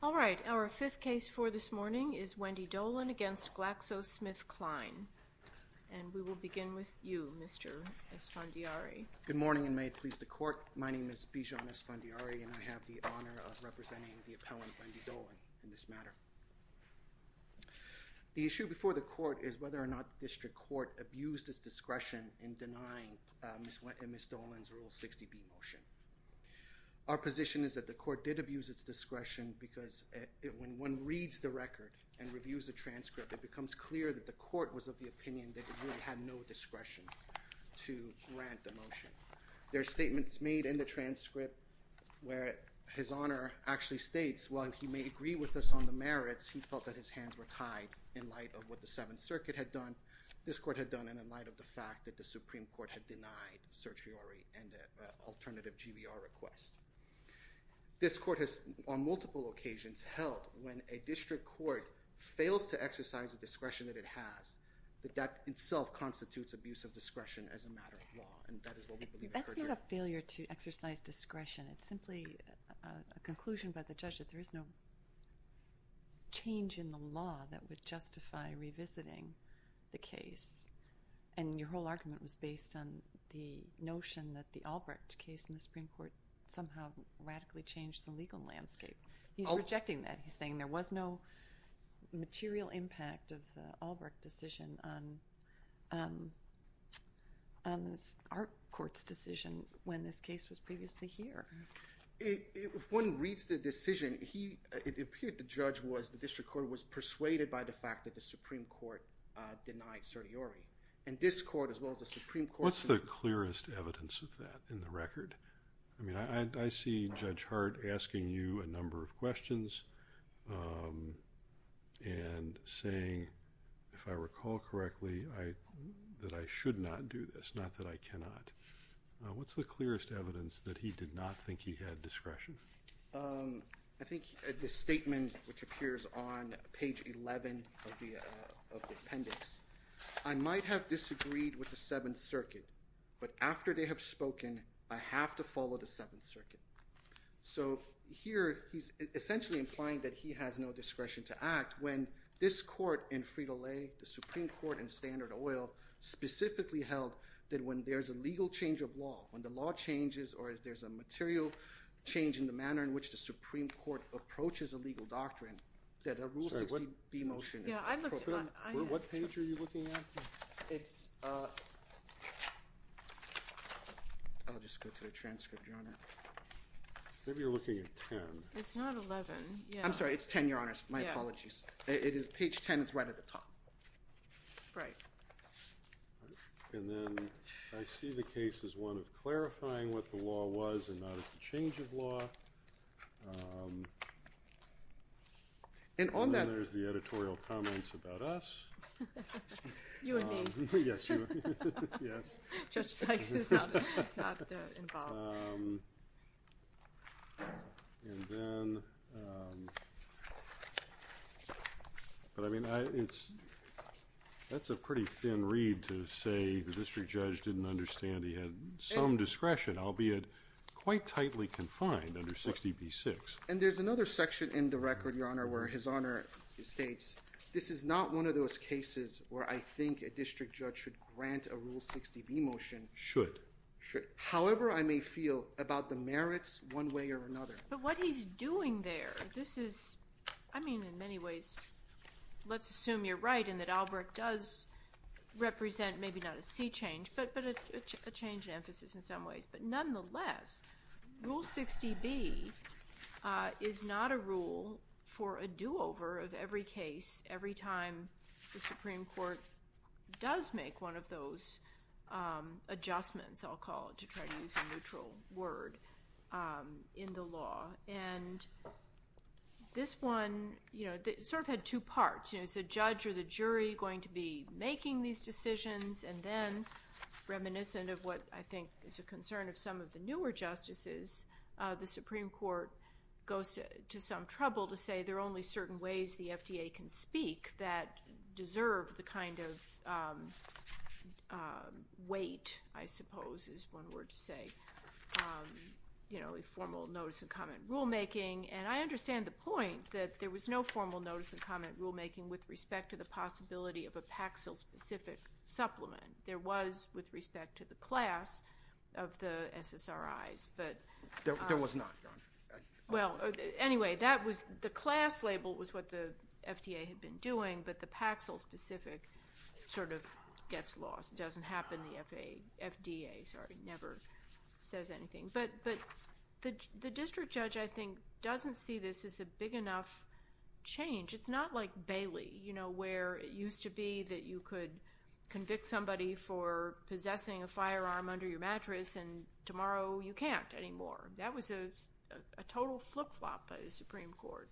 All right, our fifth case for this morning is Wendy Dolin v. GlaxoSmithKline. And we will begin with you, Mr. Esfandiari. Good morning and may it please the Court. My name is Bijo Esfandiari and I have the honor of representing the appellant, Wendy Dolin, in this matter. The issue before the Court is whether or not the District Court abused its discretion in denying Ms. Dolin's Rule 60B motion. Our position is that the Court did abuse its discretion because when one reads the record and reviews the transcript, it becomes clear that the Court was of the opinion that it really had no discretion to grant the motion. There are statements made in the transcript where His Honor actually states, while he may agree with us on the merits, he felt that his hands were tied in light of what the Seventh Circuit had done, this Court had done, and in light of the fact that the Supreme Court had denied certiorari and an alternative GVR request. This Court has, on multiple occasions, held when a District Court fails to exercise the discretion that it has, that that itself constitutes abuse of discretion as a matter of law, and that is what we believe occurred here. That's not a failure to exercise discretion. It's simply a conclusion by the judge that there is no change in the law that would justify revisiting the case. And your whole argument was based on the notion that the Albrecht case in the Supreme Court somehow radically changed the legal landscape. He's rejecting that. He's saying there was no material impact of the Albrecht decision on our Court's decision when this case was previously here. If one reads the decision, it appeared the judge was, the District Court was persuaded by the fact that the Supreme Court denied certiorari. And this Court, as well as the Supreme Court— What's the clearest evidence of that in the record? I mean, I see Judge Hart asking you a number of questions and saying, if I recall correctly, that I should not do this, not that I cannot. What's the clearest evidence that he did not think he had discretion? I think the statement which appears on page 11 of the appendix, I might have disagreed with the Seventh Circuit, but after they have spoken, I have to follow the Seventh Circuit. So here, he's essentially implying that he has no discretion to act when this Court in Frito-Lay, the Supreme Court in Standard Oil, specifically held that when there's a legal change of law, when the law changes or there's a material change in the manner in which the Supreme Court approaches a legal doctrine, that a Rule 60b motion is appropriate. What page are you looking at? It's—I'll just go to the transcript, Your Honor. Maybe you're looking at 10. It's not 11, yeah. I'm sorry, it's 10, Your Honor. My apologies. It is page 10. It's right at the top. Right. And then I see the case as one of clarifying what the law was and not as a change of law. And on that— There's the editorial comments about us. You and me. Yes, you and me. Yes. Judge Sykes is not involved. And then—but I mean, it's—that's a pretty thin read to say the district judge didn't understand he had some discretion, albeit quite tightly confined under 60b-6. And there's another section in the record, Your Honor, where His Honor states, this is not one of those cases where I think a district judge should grant a Rule 60b motion. Should. Should. However, I may feel about the merits one way or another. But what he's doing there, this is—I mean, in many ways, let's assume you're right in that Albrecht does represent maybe not a sea change, but a change in emphasis in some ways. But nonetheless, Rule 60b is not a rule for a do-over of every case every time the Supreme Court goes to some trouble to say there are only certain ways the FDA can speak that deserve the kind of weight, I suppose is one word to say, you know, a formal notice and comment rulemaking. And I understand the point that there was no formal notice and comment rulemaking with respect to the possibility of a Paxil-specific supplement. There was with respect to the class of the SSRIs, but— There was not, Your Honor. Well, anyway, that was—the class label was what the FDA had been doing. But the Paxil-specific sort of gets lost. It doesn't happen. The FDA never says anything. But the district judge, I think, doesn't see this as a big enough change. It's not like Bailey, you know, where it used to be that you could convict somebody for possessing a firearm under your mattress, and tomorrow you can't anymore. That was a total flip-flop by the Supreme Court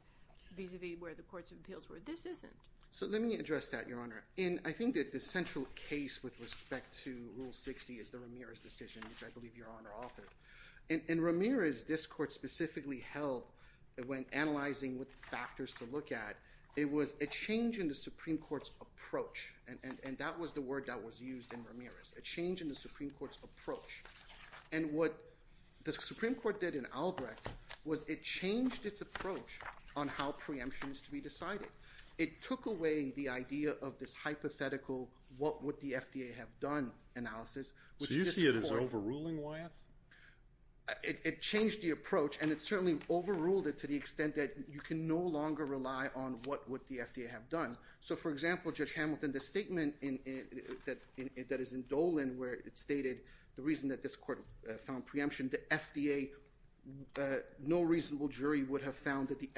vis-a-vis where the courts of appeals were. This isn't. So let me address that, Your Honor. And I think that the central case with respect to Rule 60 is the Ramirez decision, which I believe Your Honor authored. In Ramirez, this Court specifically held, when analyzing what factors to look at, it was a change in the Supreme Court's approach, and that was the word that was used in Ramirez, a change in the Supreme Court's approach. And what the Supreme Court did in Albrecht was it changed its approach on how preemption is to be decided. It took away the idea of this hypothetical what would the FDA have done analysis, which this Court— So you see it as overruling, Wyeth? It changed the approach, and it certainly overruled it to the extent that you can no longer rely on what would the FDA have done. So, for example, Judge Hamilton, the statement that is in Dolan where it stated the reason that this Court found preemption, the FDA—no reasonable jury would have found that the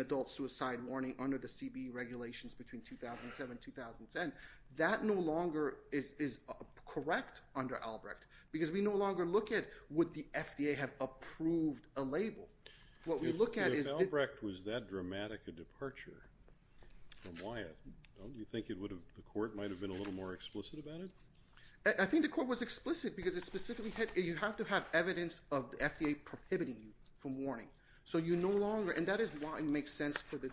adult suicide warning under the CBE regulations between 2007 and 2010, that no longer is correct under Albrecht because we no longer look at would the FDA have approved a label. What we look at is— If Albrecht was that dramatic a departure from Wyeth, don't you think it would have—the Court might have been a little more explicit about it? I think the Court was explicit because it specifically had—you have to have evidence of the FDA prohibiting you from warning. So you no longer—and that is why it makes sense for the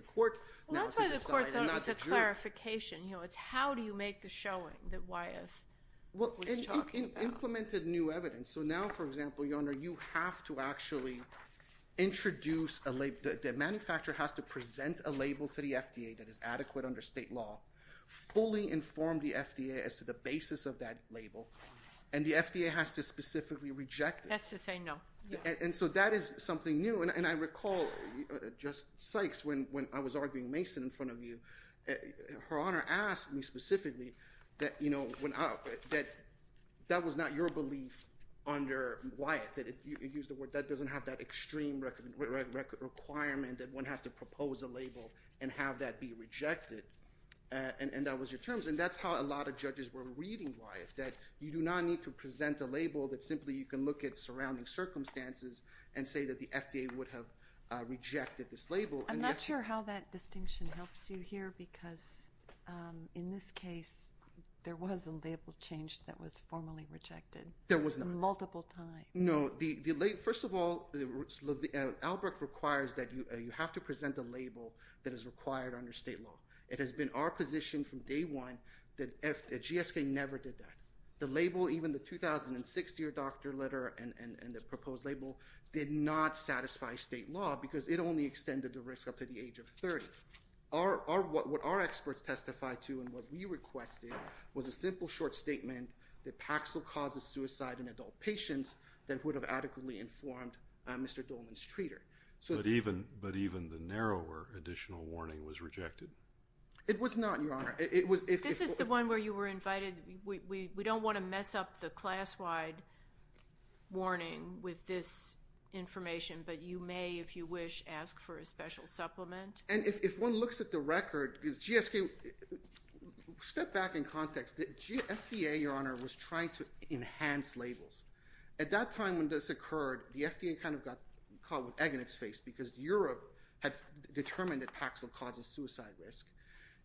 Court now to decide and not Well, that's why the Court thought it was a clarification. It's how do you make the showing that Wyeth was talking about? And implemented new evidence. So now, for example, Your Honor, you have to actually introduce a—the manufacturer has to present a label to the FDA that is adequate under state law, fully inform the FDA as to the basis of that label, and the FDA has to specifically reject it. That's to say no. And so that is something new. And I recall, Justice Sykes, when I was arguing Mason in front of you, Her Honor asked me specifically that, you know, when—that was not your belief under Wyeth. It used the word that doesn't have that extreme requirement that one has to propose a label and have that be rejected. And that was your terms. And that's how a lot of judges were reading Wyeth, that you do not need to present a and say that the FDA would have rejected this label. I'm not sure how that distinction helps you here, because in this case, there was a label change that was formally rejected. There was not. Multiple times. No. First of all, Albrecht requires that you have to present a label that is required under state law. It has been our position from day one that GSK never did that. The label, even the 2006 year doctor letter and the proposed label, did not satisfy state law because it only extended the risk up to the age of 30. Our—what our experts testified to and what we requested was a simple short statement that Paxil causes suicide in adult patients that would have adequately informed Mr. Dolman's treater. But even the narrower additional warning was rejected? It was not, Your Honor. This is the one where you were invited. We don't want to mess up the class-wide warning with this information, but you may, if you wish, ask for a special supplement. And if one looks at the record, because GSK—step back in context. FDA, Your Honor, was trying to enhance labels. At that time when this occurred, the FDA kind of got caught with egg in its face because Europe had determined that Paxil causes suicide risk.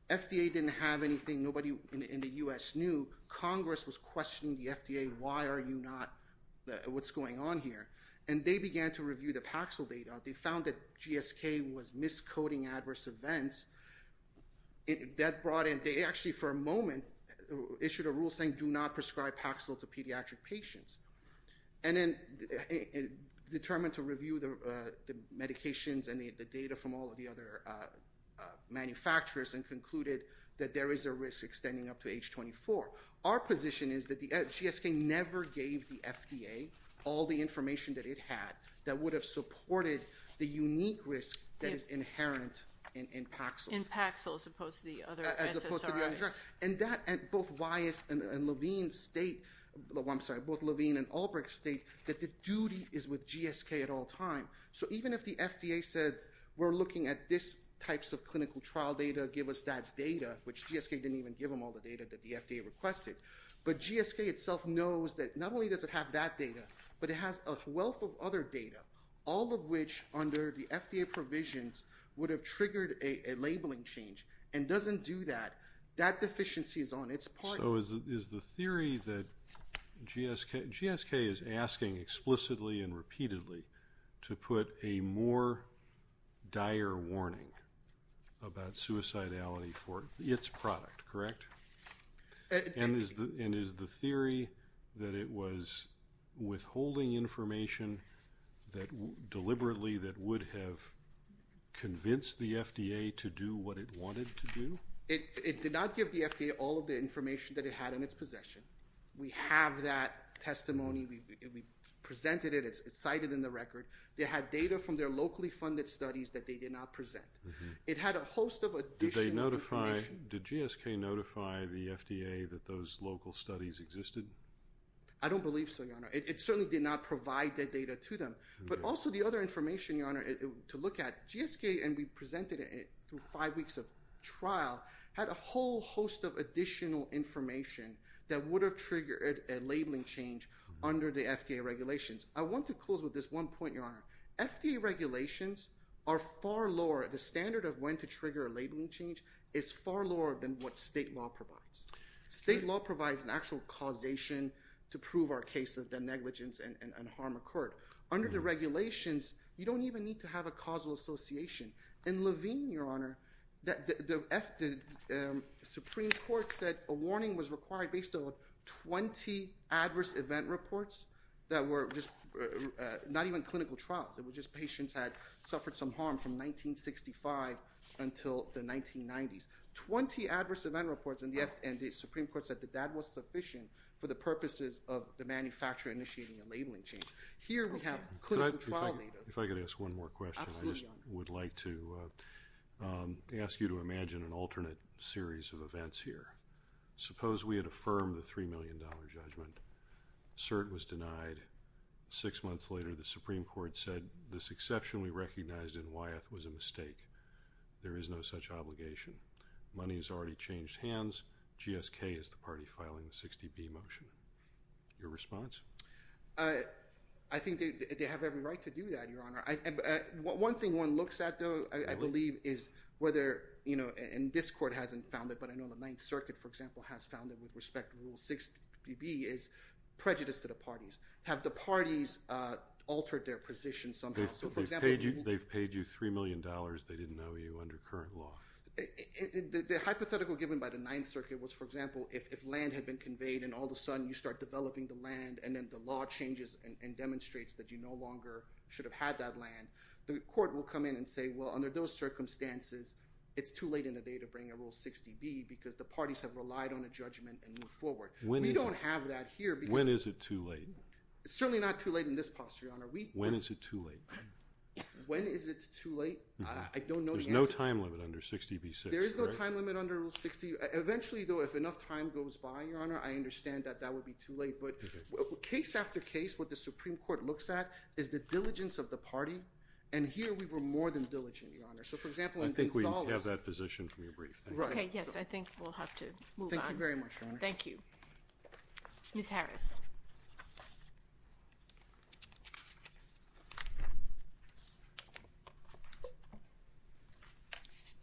FDA didn't have anything. Nobody in the U.S. knew. Congress was questioning the FDA. Why are you not—what's going on here? And they began to review the Paxil data. They found that GSK was miscoding adverse events. That brought in—they actually, for a moment, issued a rule saying do not prescribe Paxil to pediatric patients. And then determined to review the medications and the data from all of the other manufacturers and concluded that there is a risk extending up to age 24. Our position is that the—GSK never gave the FDA all the information that it had that would have supported the unique risk that is inherent in Paxil. In Paxil, as opposed to the other SSRIs. As opposed to the other drugs. And that—both Weiss and Levine state—I'm sorry, both Levine and Albrecht state that the duty is with GSK at all times. So even if the FDA said we're looking at this type of clinical trial data, give us that data, which GSK didn't even give them all the data that the FDA requested. But GSK itself knows that not only does it have that data, but it has a wealth of other data. All of which, under the FDA provisions, would have triggered a labeling change and doesn't do that. That deficiency is on its part. So is the theory that GSK—GSK is asking explicitly and repeatedly to put a more dire warning about suicidality for its product, correct? And is the theory that it was withholding information that—deliberately that would have convinced the FDA to do what it wanted to do? It did not give the FDA all of the information that it had in its possession. We have that testimony. We presented it. It's cited in the record. They had data from their locally funded studies that they did not present. It had a host of additional information. Did GSK notify the FDA that those local studies existed? I don't believe so, Your Honor. It certainly did not provide that data to them. But also the other information, Your Honor, to look at, GSK—and we presented it through had a whole host of additional information that would have triggered a labeling change under the FDA regulations. I want to close with this one point, Your Honor. FDA regulations are far lower—the standard of when to trigger a labeling change is far lower than what state law provides. State law provides an actual causation to prove our case that negligence and harm occurred. Under the regulations, you don't even need to have a causal association. In Levine, Your Honor, the Supreme Court said a warning was required based on 20 adverse event reports that were just—not even clinical trials. It was just patients had suffered some harm from 1965 until the 1990s. Twenty adverse event reports, and the Supreme Court said that that was sufficient for the purposes of the manufacturer initiating a labeling change. Here we have clinical trial leaders— I'm going to ask you to imagine an alternate series of events here. Suppose we had affirmed the $3 million judgment. CERT was denied. Six months later, the Supreme Court said this exception we recognized in Wyeth was a mistake. There is no such obligation. Money has already changed hands. GSK is the party filing the 60B motion. Your response? I think they have every right to do that, Your Honor. One thing one looks at, though, I believe, is whether—and this Court hasn't found it, but I know the Ninth Circuit, for example, has found it with respect to Rule 60B is prejudice to the parties. Have the parties altered their position somehow? So, for example— They've paid you $3 million. They didn't know you under current law. The hypothetical given by the Ninth Circuit was, for example, if land had been conveyed and all of a sudden you start developing the land and then the law changes and demonstrates that you no longer should have had that land, the Court will come in and say, well, under those circumstances, it's too late in the day to bring a Rule 60B because the parties have relied on a judgment and moved forward. We don't have that here because— When is it too late? It's certainly not too late in this posture, Your Honor. When is it too late? When is it too late? I don't know the answer. There's no time limit under 60B-6. There is no time limit under Rule 60. Eventually, though, if enough time goes by, Your Honor, I understand that that would be too late. Case after case, what the Supreme Court looks at is the diligence of the party, and here we were more than diligent, Your Honor. So, for example, in Gonzales— I think we have that position from your brief. Right. Okay. Yes, I think we'll have to move on. Thank you very much, Your Honor. Thank you. Ms. Harris.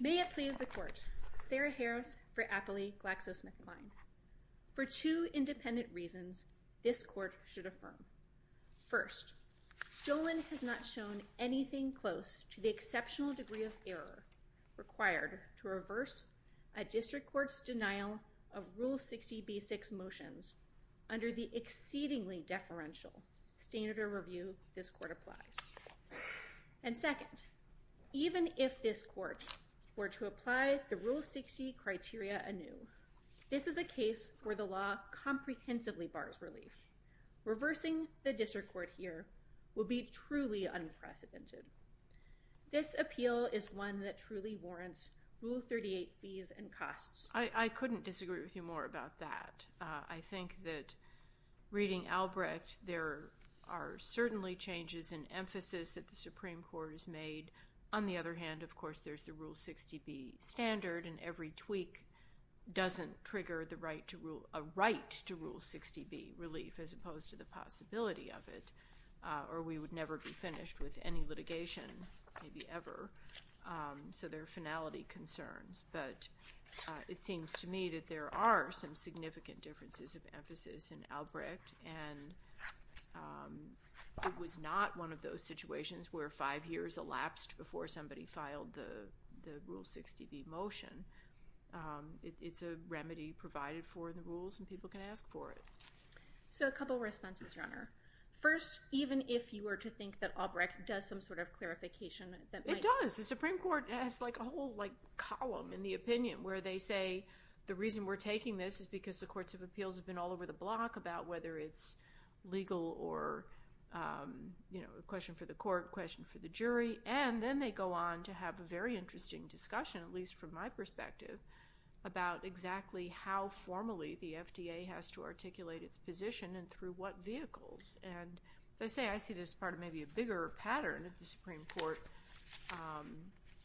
May it please the Court. Sarah Harris for Apley GlaxoSmithKline. For two independent reasons, this Court should affirm. First, Dolan has not shown anything close to the exceptional degree of error required to reverse a district court's denial of Rule 60B-6 motions under the exceedingly deferential standard of review this Court applies. And second, even if this Court were to apply the Rule 60 criteria anew, this is a case where the law comprehensively bars relief. Reversing the district court here would be truly unprecedented. This appeal is one that truly warrants Rule 38 fees and costs. I couldn't disagree with you more about that. I think that reading Albrecht, there are certainly changes in emphasis that the Supreme Court has made. On the other hand, of course, there's the Rule 60B standard, and every tweak doesn't trigger a right to Rule 60B relief, as opposed to the possibility of it. Or we would never be finished with any litigation, maybe ever. So there are finality concerns. But it seems to me that there are some significant differences of emphasis in Albrecht. And it was not one of those situations where five years elapsed before somebody filed the Rule 60B motion. It's a remedy provided for in the Rules, and people can ask for it. So a couple of responses, Your Honor. First, even if you were to think that Albrecht does some sort of clarification that might It does. The Supreme Court has a whole column in the opinion where they say the reason we're taking this is because the courts of appeals have been all over the block about whether it's legal or a question for the court, a question for the jury. And then they go on to have a very interesting discussion, at least from my perspective, about exactly how formally the FDA has to articulate its position and through what vehicles. And as I say, I see this as part of maybe a bigger pattern of the Supreme Court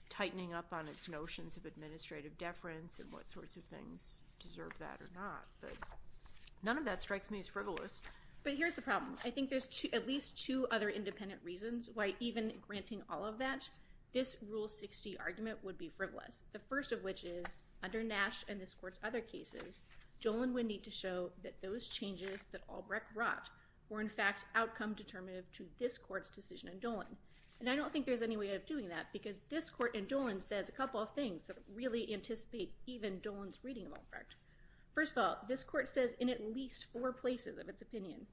tightening up on its notions of administrative deference and what sorts of things deserve that or not. But none of that strikes me as frivolous. But here's the problem. I think there's at least two other independent reasons why even granting all of that, this Rule 60 argument would be frivolous, the first of which is under Nash and this court's other cases, Dolan would need to show that those changes that Albrecht brought were, in fact, outcome determinative to this court's decision in Dolan. And I don't think there's any way of doing that, because this court in Dolan says a couple of things that really anticipate even Dolan's reading of Albrecht. First of all, this court says in at least four places of its opinion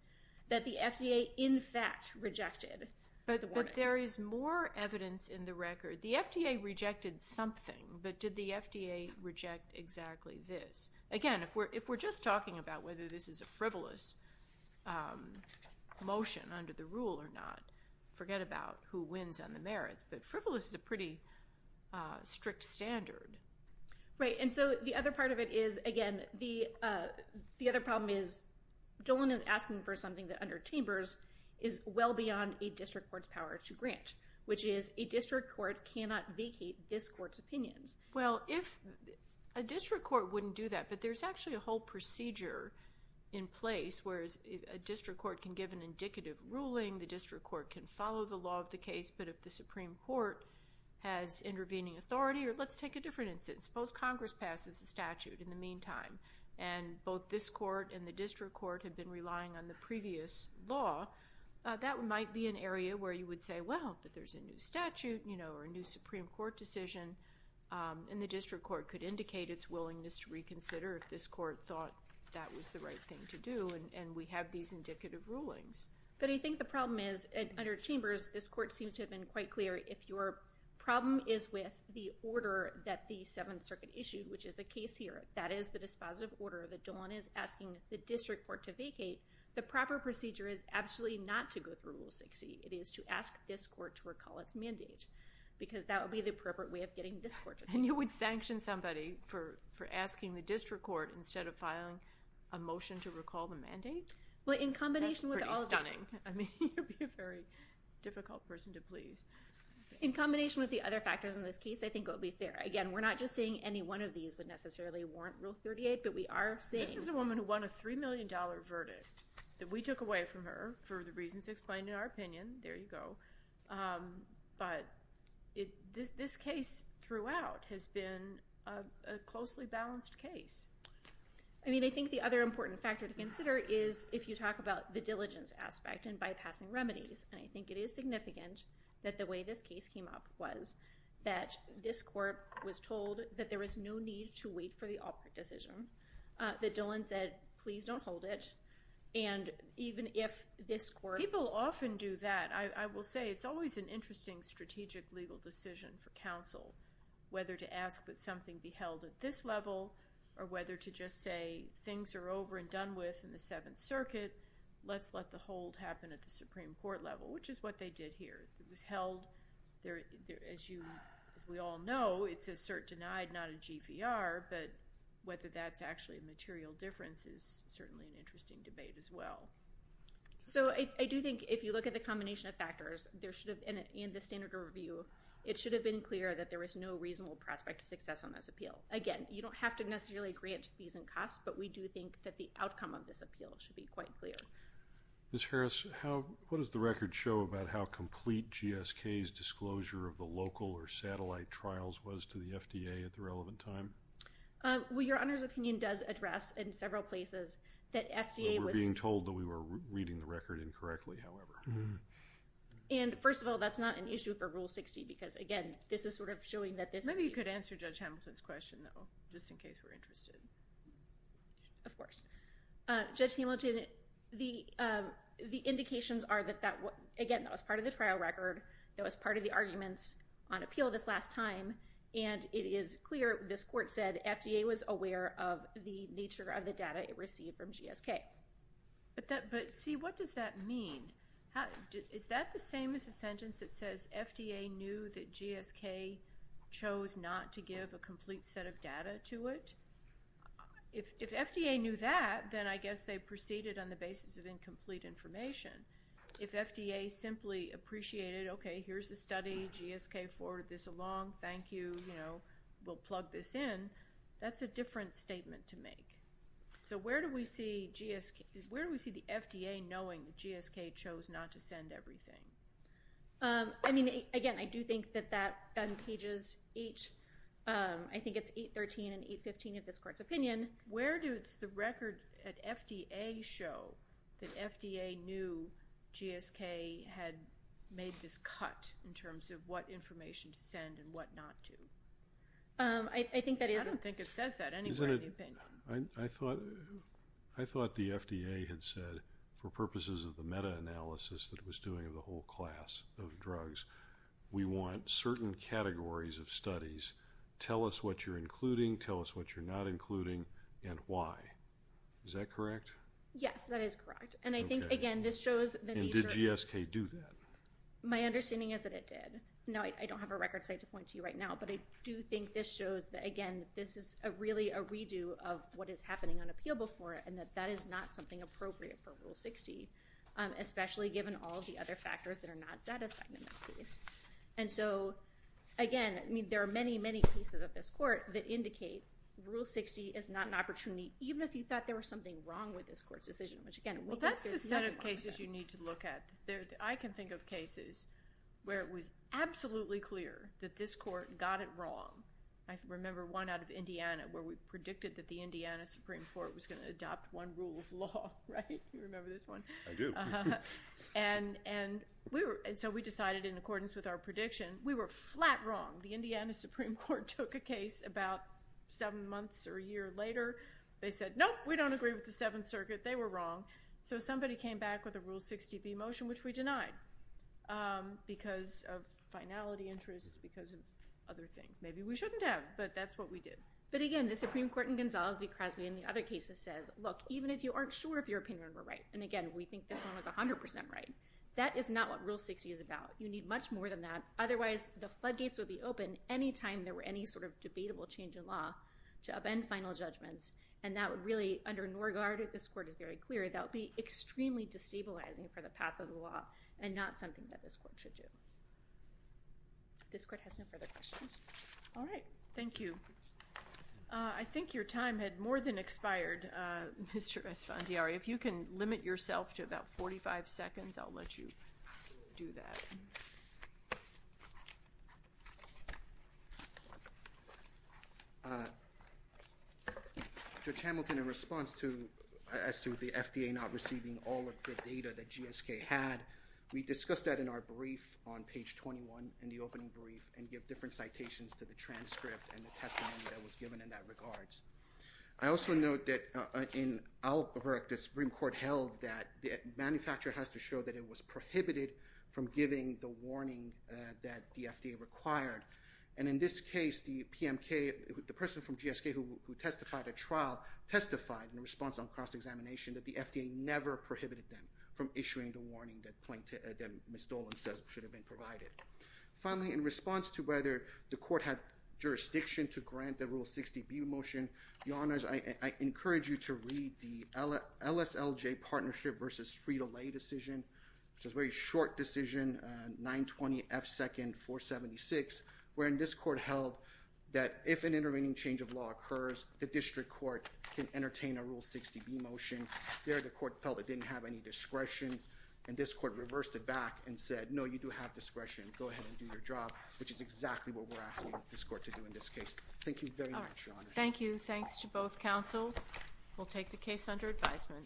that the FDA, in fact, rejected the warning. But there is more evidence in the record. The FDA rejected something. But did the FDA reject exactly this? Again, if we're just talking about whether this is a frivolous motion under the rule or not, forget about who wins on the merits. But frivolous is a pretty strict standard. Right. And so the other part of it is, again, the other problem is Dolan is asking for something that under Chambers is well beyond a district court's power to grant, which is a district court cannot vacate this court's opinions. Well, if a district court wouldn't do that, but there's actually a whole procedure in place, whereas a district court can give an indicative ruling, the district court can follow the law of the case, but if the Supreme Court has intervening authority, or let's take a different instance, suppose Congress passes a statute in the meantime, and both this court and the district court have been relying on the previous law, that might be an area where you would say, well, that there's a new statute, you know, or a new Supreme Court decision, and the district court could indicate its willingness to reconsider if this court thought that was the right thing to do, and we have these indicative rulings. But I think the problem is, under Chambers, this court seems to have been quite clear, if your problem is with the order that the Seventh Circuit issued, which is the case here, that is the dispositive order, that Dolan is asking the district court to vacate, the proper procedure is absolutely not to go through Rule 60, it is to ask this court to recall its mandate, because that would be the appropriate way of getting this court to vacate. And you would sanction somebody for asking the district court, instead of filing a motion to recall the mandate? Well, in combination with all of that... That's pretty stunning. I mean, you'd be a very difficult person to please. In combination with the other factors in this case, I think it would be fair. Again, we're not just saying any one of these would necessarily warrant Rule 38, but we are saying... This is a woman who won a $3 million verdict that we took away from her for the reasons explained in our opinion, there you go. But this case throughout has been a closely balanced case. I mean, I think the other important factor to consider is, if you talk about the diligence aspect and bypassing remedies, and I think it is significant that the way this case came up was that this court was told that there was no need to wait for the Albrecht decision, that Dillon said, please don't hold it, and even if this court... People often do that. I will say it's always an interesting strategic legal decision for counsel, whether to ask that something be held at this level, or whether to just say, things are over and done with in the Seventh Circuit, let's let the hold happen at the Supreme Court level, which is what they did here. It was held... As we all know, it's a cert denied, not a GVR, but whether that's actually a material difference is certainly an interesting debate as well. So I do think if you look at the combination of factors, and the standard of review, it should have been clear that there was no reasonable prospect of success on this appeal. Again, you don't have to necessarily grant fees and costs, but we do think that the outcome of this appeal should be quite clear. Ms. Harris, what does the record show about how complete GSK's disclosure of the local or satellite trials was to the FDA at the relevant time? Well, Your Honor's opinion does address in several places that FDA was... We're being told that we were reading the record incorrectly, however. And first of all, that's not an issue for Rule 60, because again, this is sort of showing that this... Maybe you could answer Judge Hamilton's question though, just in case we're interested. Of course. Judge Hamilton, the indications are that that... Again, that was part of the trial record, that was part of the arguments on appeal this last time, and it is clear, this court said, FDA was aware of the nature of the data it received from GSK. But see, what does that mean? Is that the same as a sentence that says FDA knew that GSK chose not to give a complete set of data to it? If FDA knew that, then I guess they proceeded on the basis of incomplete information. If FDA simply appreciated, okay, here's the study, GSK forwarded this along, thank you, we'll plug this in, that's a different statement to make. So where do we see the FDA knowing that GSK chose not to send everything? I mean, again, I do think that that on pages 8, I think it's 813 and 815 of this court's opinion, where does the record at FDA show that FDA knew GSK had made this cut in terms of what information to send and what not to? I think that is... I don't think it says that anywhere in the opinion. I thought the FDA had said, for purposes of the meta-analysis that it was doing of the whole class of drugs, we want certain categories of studies, tell us what you're including, tell us what you're not including, and why. Is that correct? Yes, that is correct. And I think, again, this shows that... And did GSK do that? My understanding is that it did. Now, I don't have a record site to point to right now, but I do think this shows that, again, this is really a redo of what is happening on appeal before, and that that is not something appropriate for Rule 60, especially given all of the other factors that are not satisfied in this case. And so, again, there are many, many pieces of this court that indicate Rule 60 is not an opportunity, even if you thought there was something wrong with this court's decision, which, again... Well, that's the set of cases you need to look at. I can think of cases where it was absolutely clear that this court got it wrong. I remember one out of Indiana, where we predicted that the Indiana Supreme Court was going to You remember this one? I do. And so we decided, in accordance with our prediction, we were flat wrong. The Indiana Supreme Court took a case about seven months or a year later. They said, nope, we don't agree with the Seventh Circuit. They were wrong. So somebody came back with a Rule 60b motion, which we denied, because of finality interests, because of other things. Maybe we shouldn't have, but that's what we did. But, again, the Supreme Court in Gonzales v. Crosby, in the other cases, says, look, even if you aren't sure if your opinion were right, and, again, we think this one was 100% right, that is not what Rule 60 is about. You need much more than that. Otherwise, the floodgates would be open any time there were any sort of debatable change in law to upend final judgments. And that would really, under Norgaard, this court is very clear, that would be extremely destabilizing for the path of the law, and not something that this court should do. This court has no further questions. All right. Thank you. I think your time had more than expired, Mr. Esfandiari. If you can limit yourself to about 45 seconds, I'll let you do that. Judge Hamilton, in response to, as to the FDA not receiving all of the data that GSK had, we discussed that in our brief on page 21, in the opening brief, and give different that was given in that regards. I also note that in Albuquerque, the Supreme Court held that the manufacturer has to show that it was prohibited from giving the warning that the FDA required. And in this case, the PMK, the person from GSK who testified at trial, testified in response on cross-examination that the FDA never prohibited them from issuing the warning that Ms. Dolan says should have been provided. Finally, in response to whether the court had jurisdiction to grant the Rule 60B motion, Your Honors, I encourage you to read the LSLJ partnership versus free-to-lay decision, which is a very short decision, 920F2 476, wherein this court held that if an intervening change of law occurs, the district court can entertain a Rule 60B motion. There, the court felt it didn't have any discretion, and this court reversed it back and said, no, you do have discretion. Go ahead and do your job, which is exactly what we're asking this court to do in this case. Thank you very much, Your Honor. Thank you. Thanks to both counsel. We'll take the case under advisement.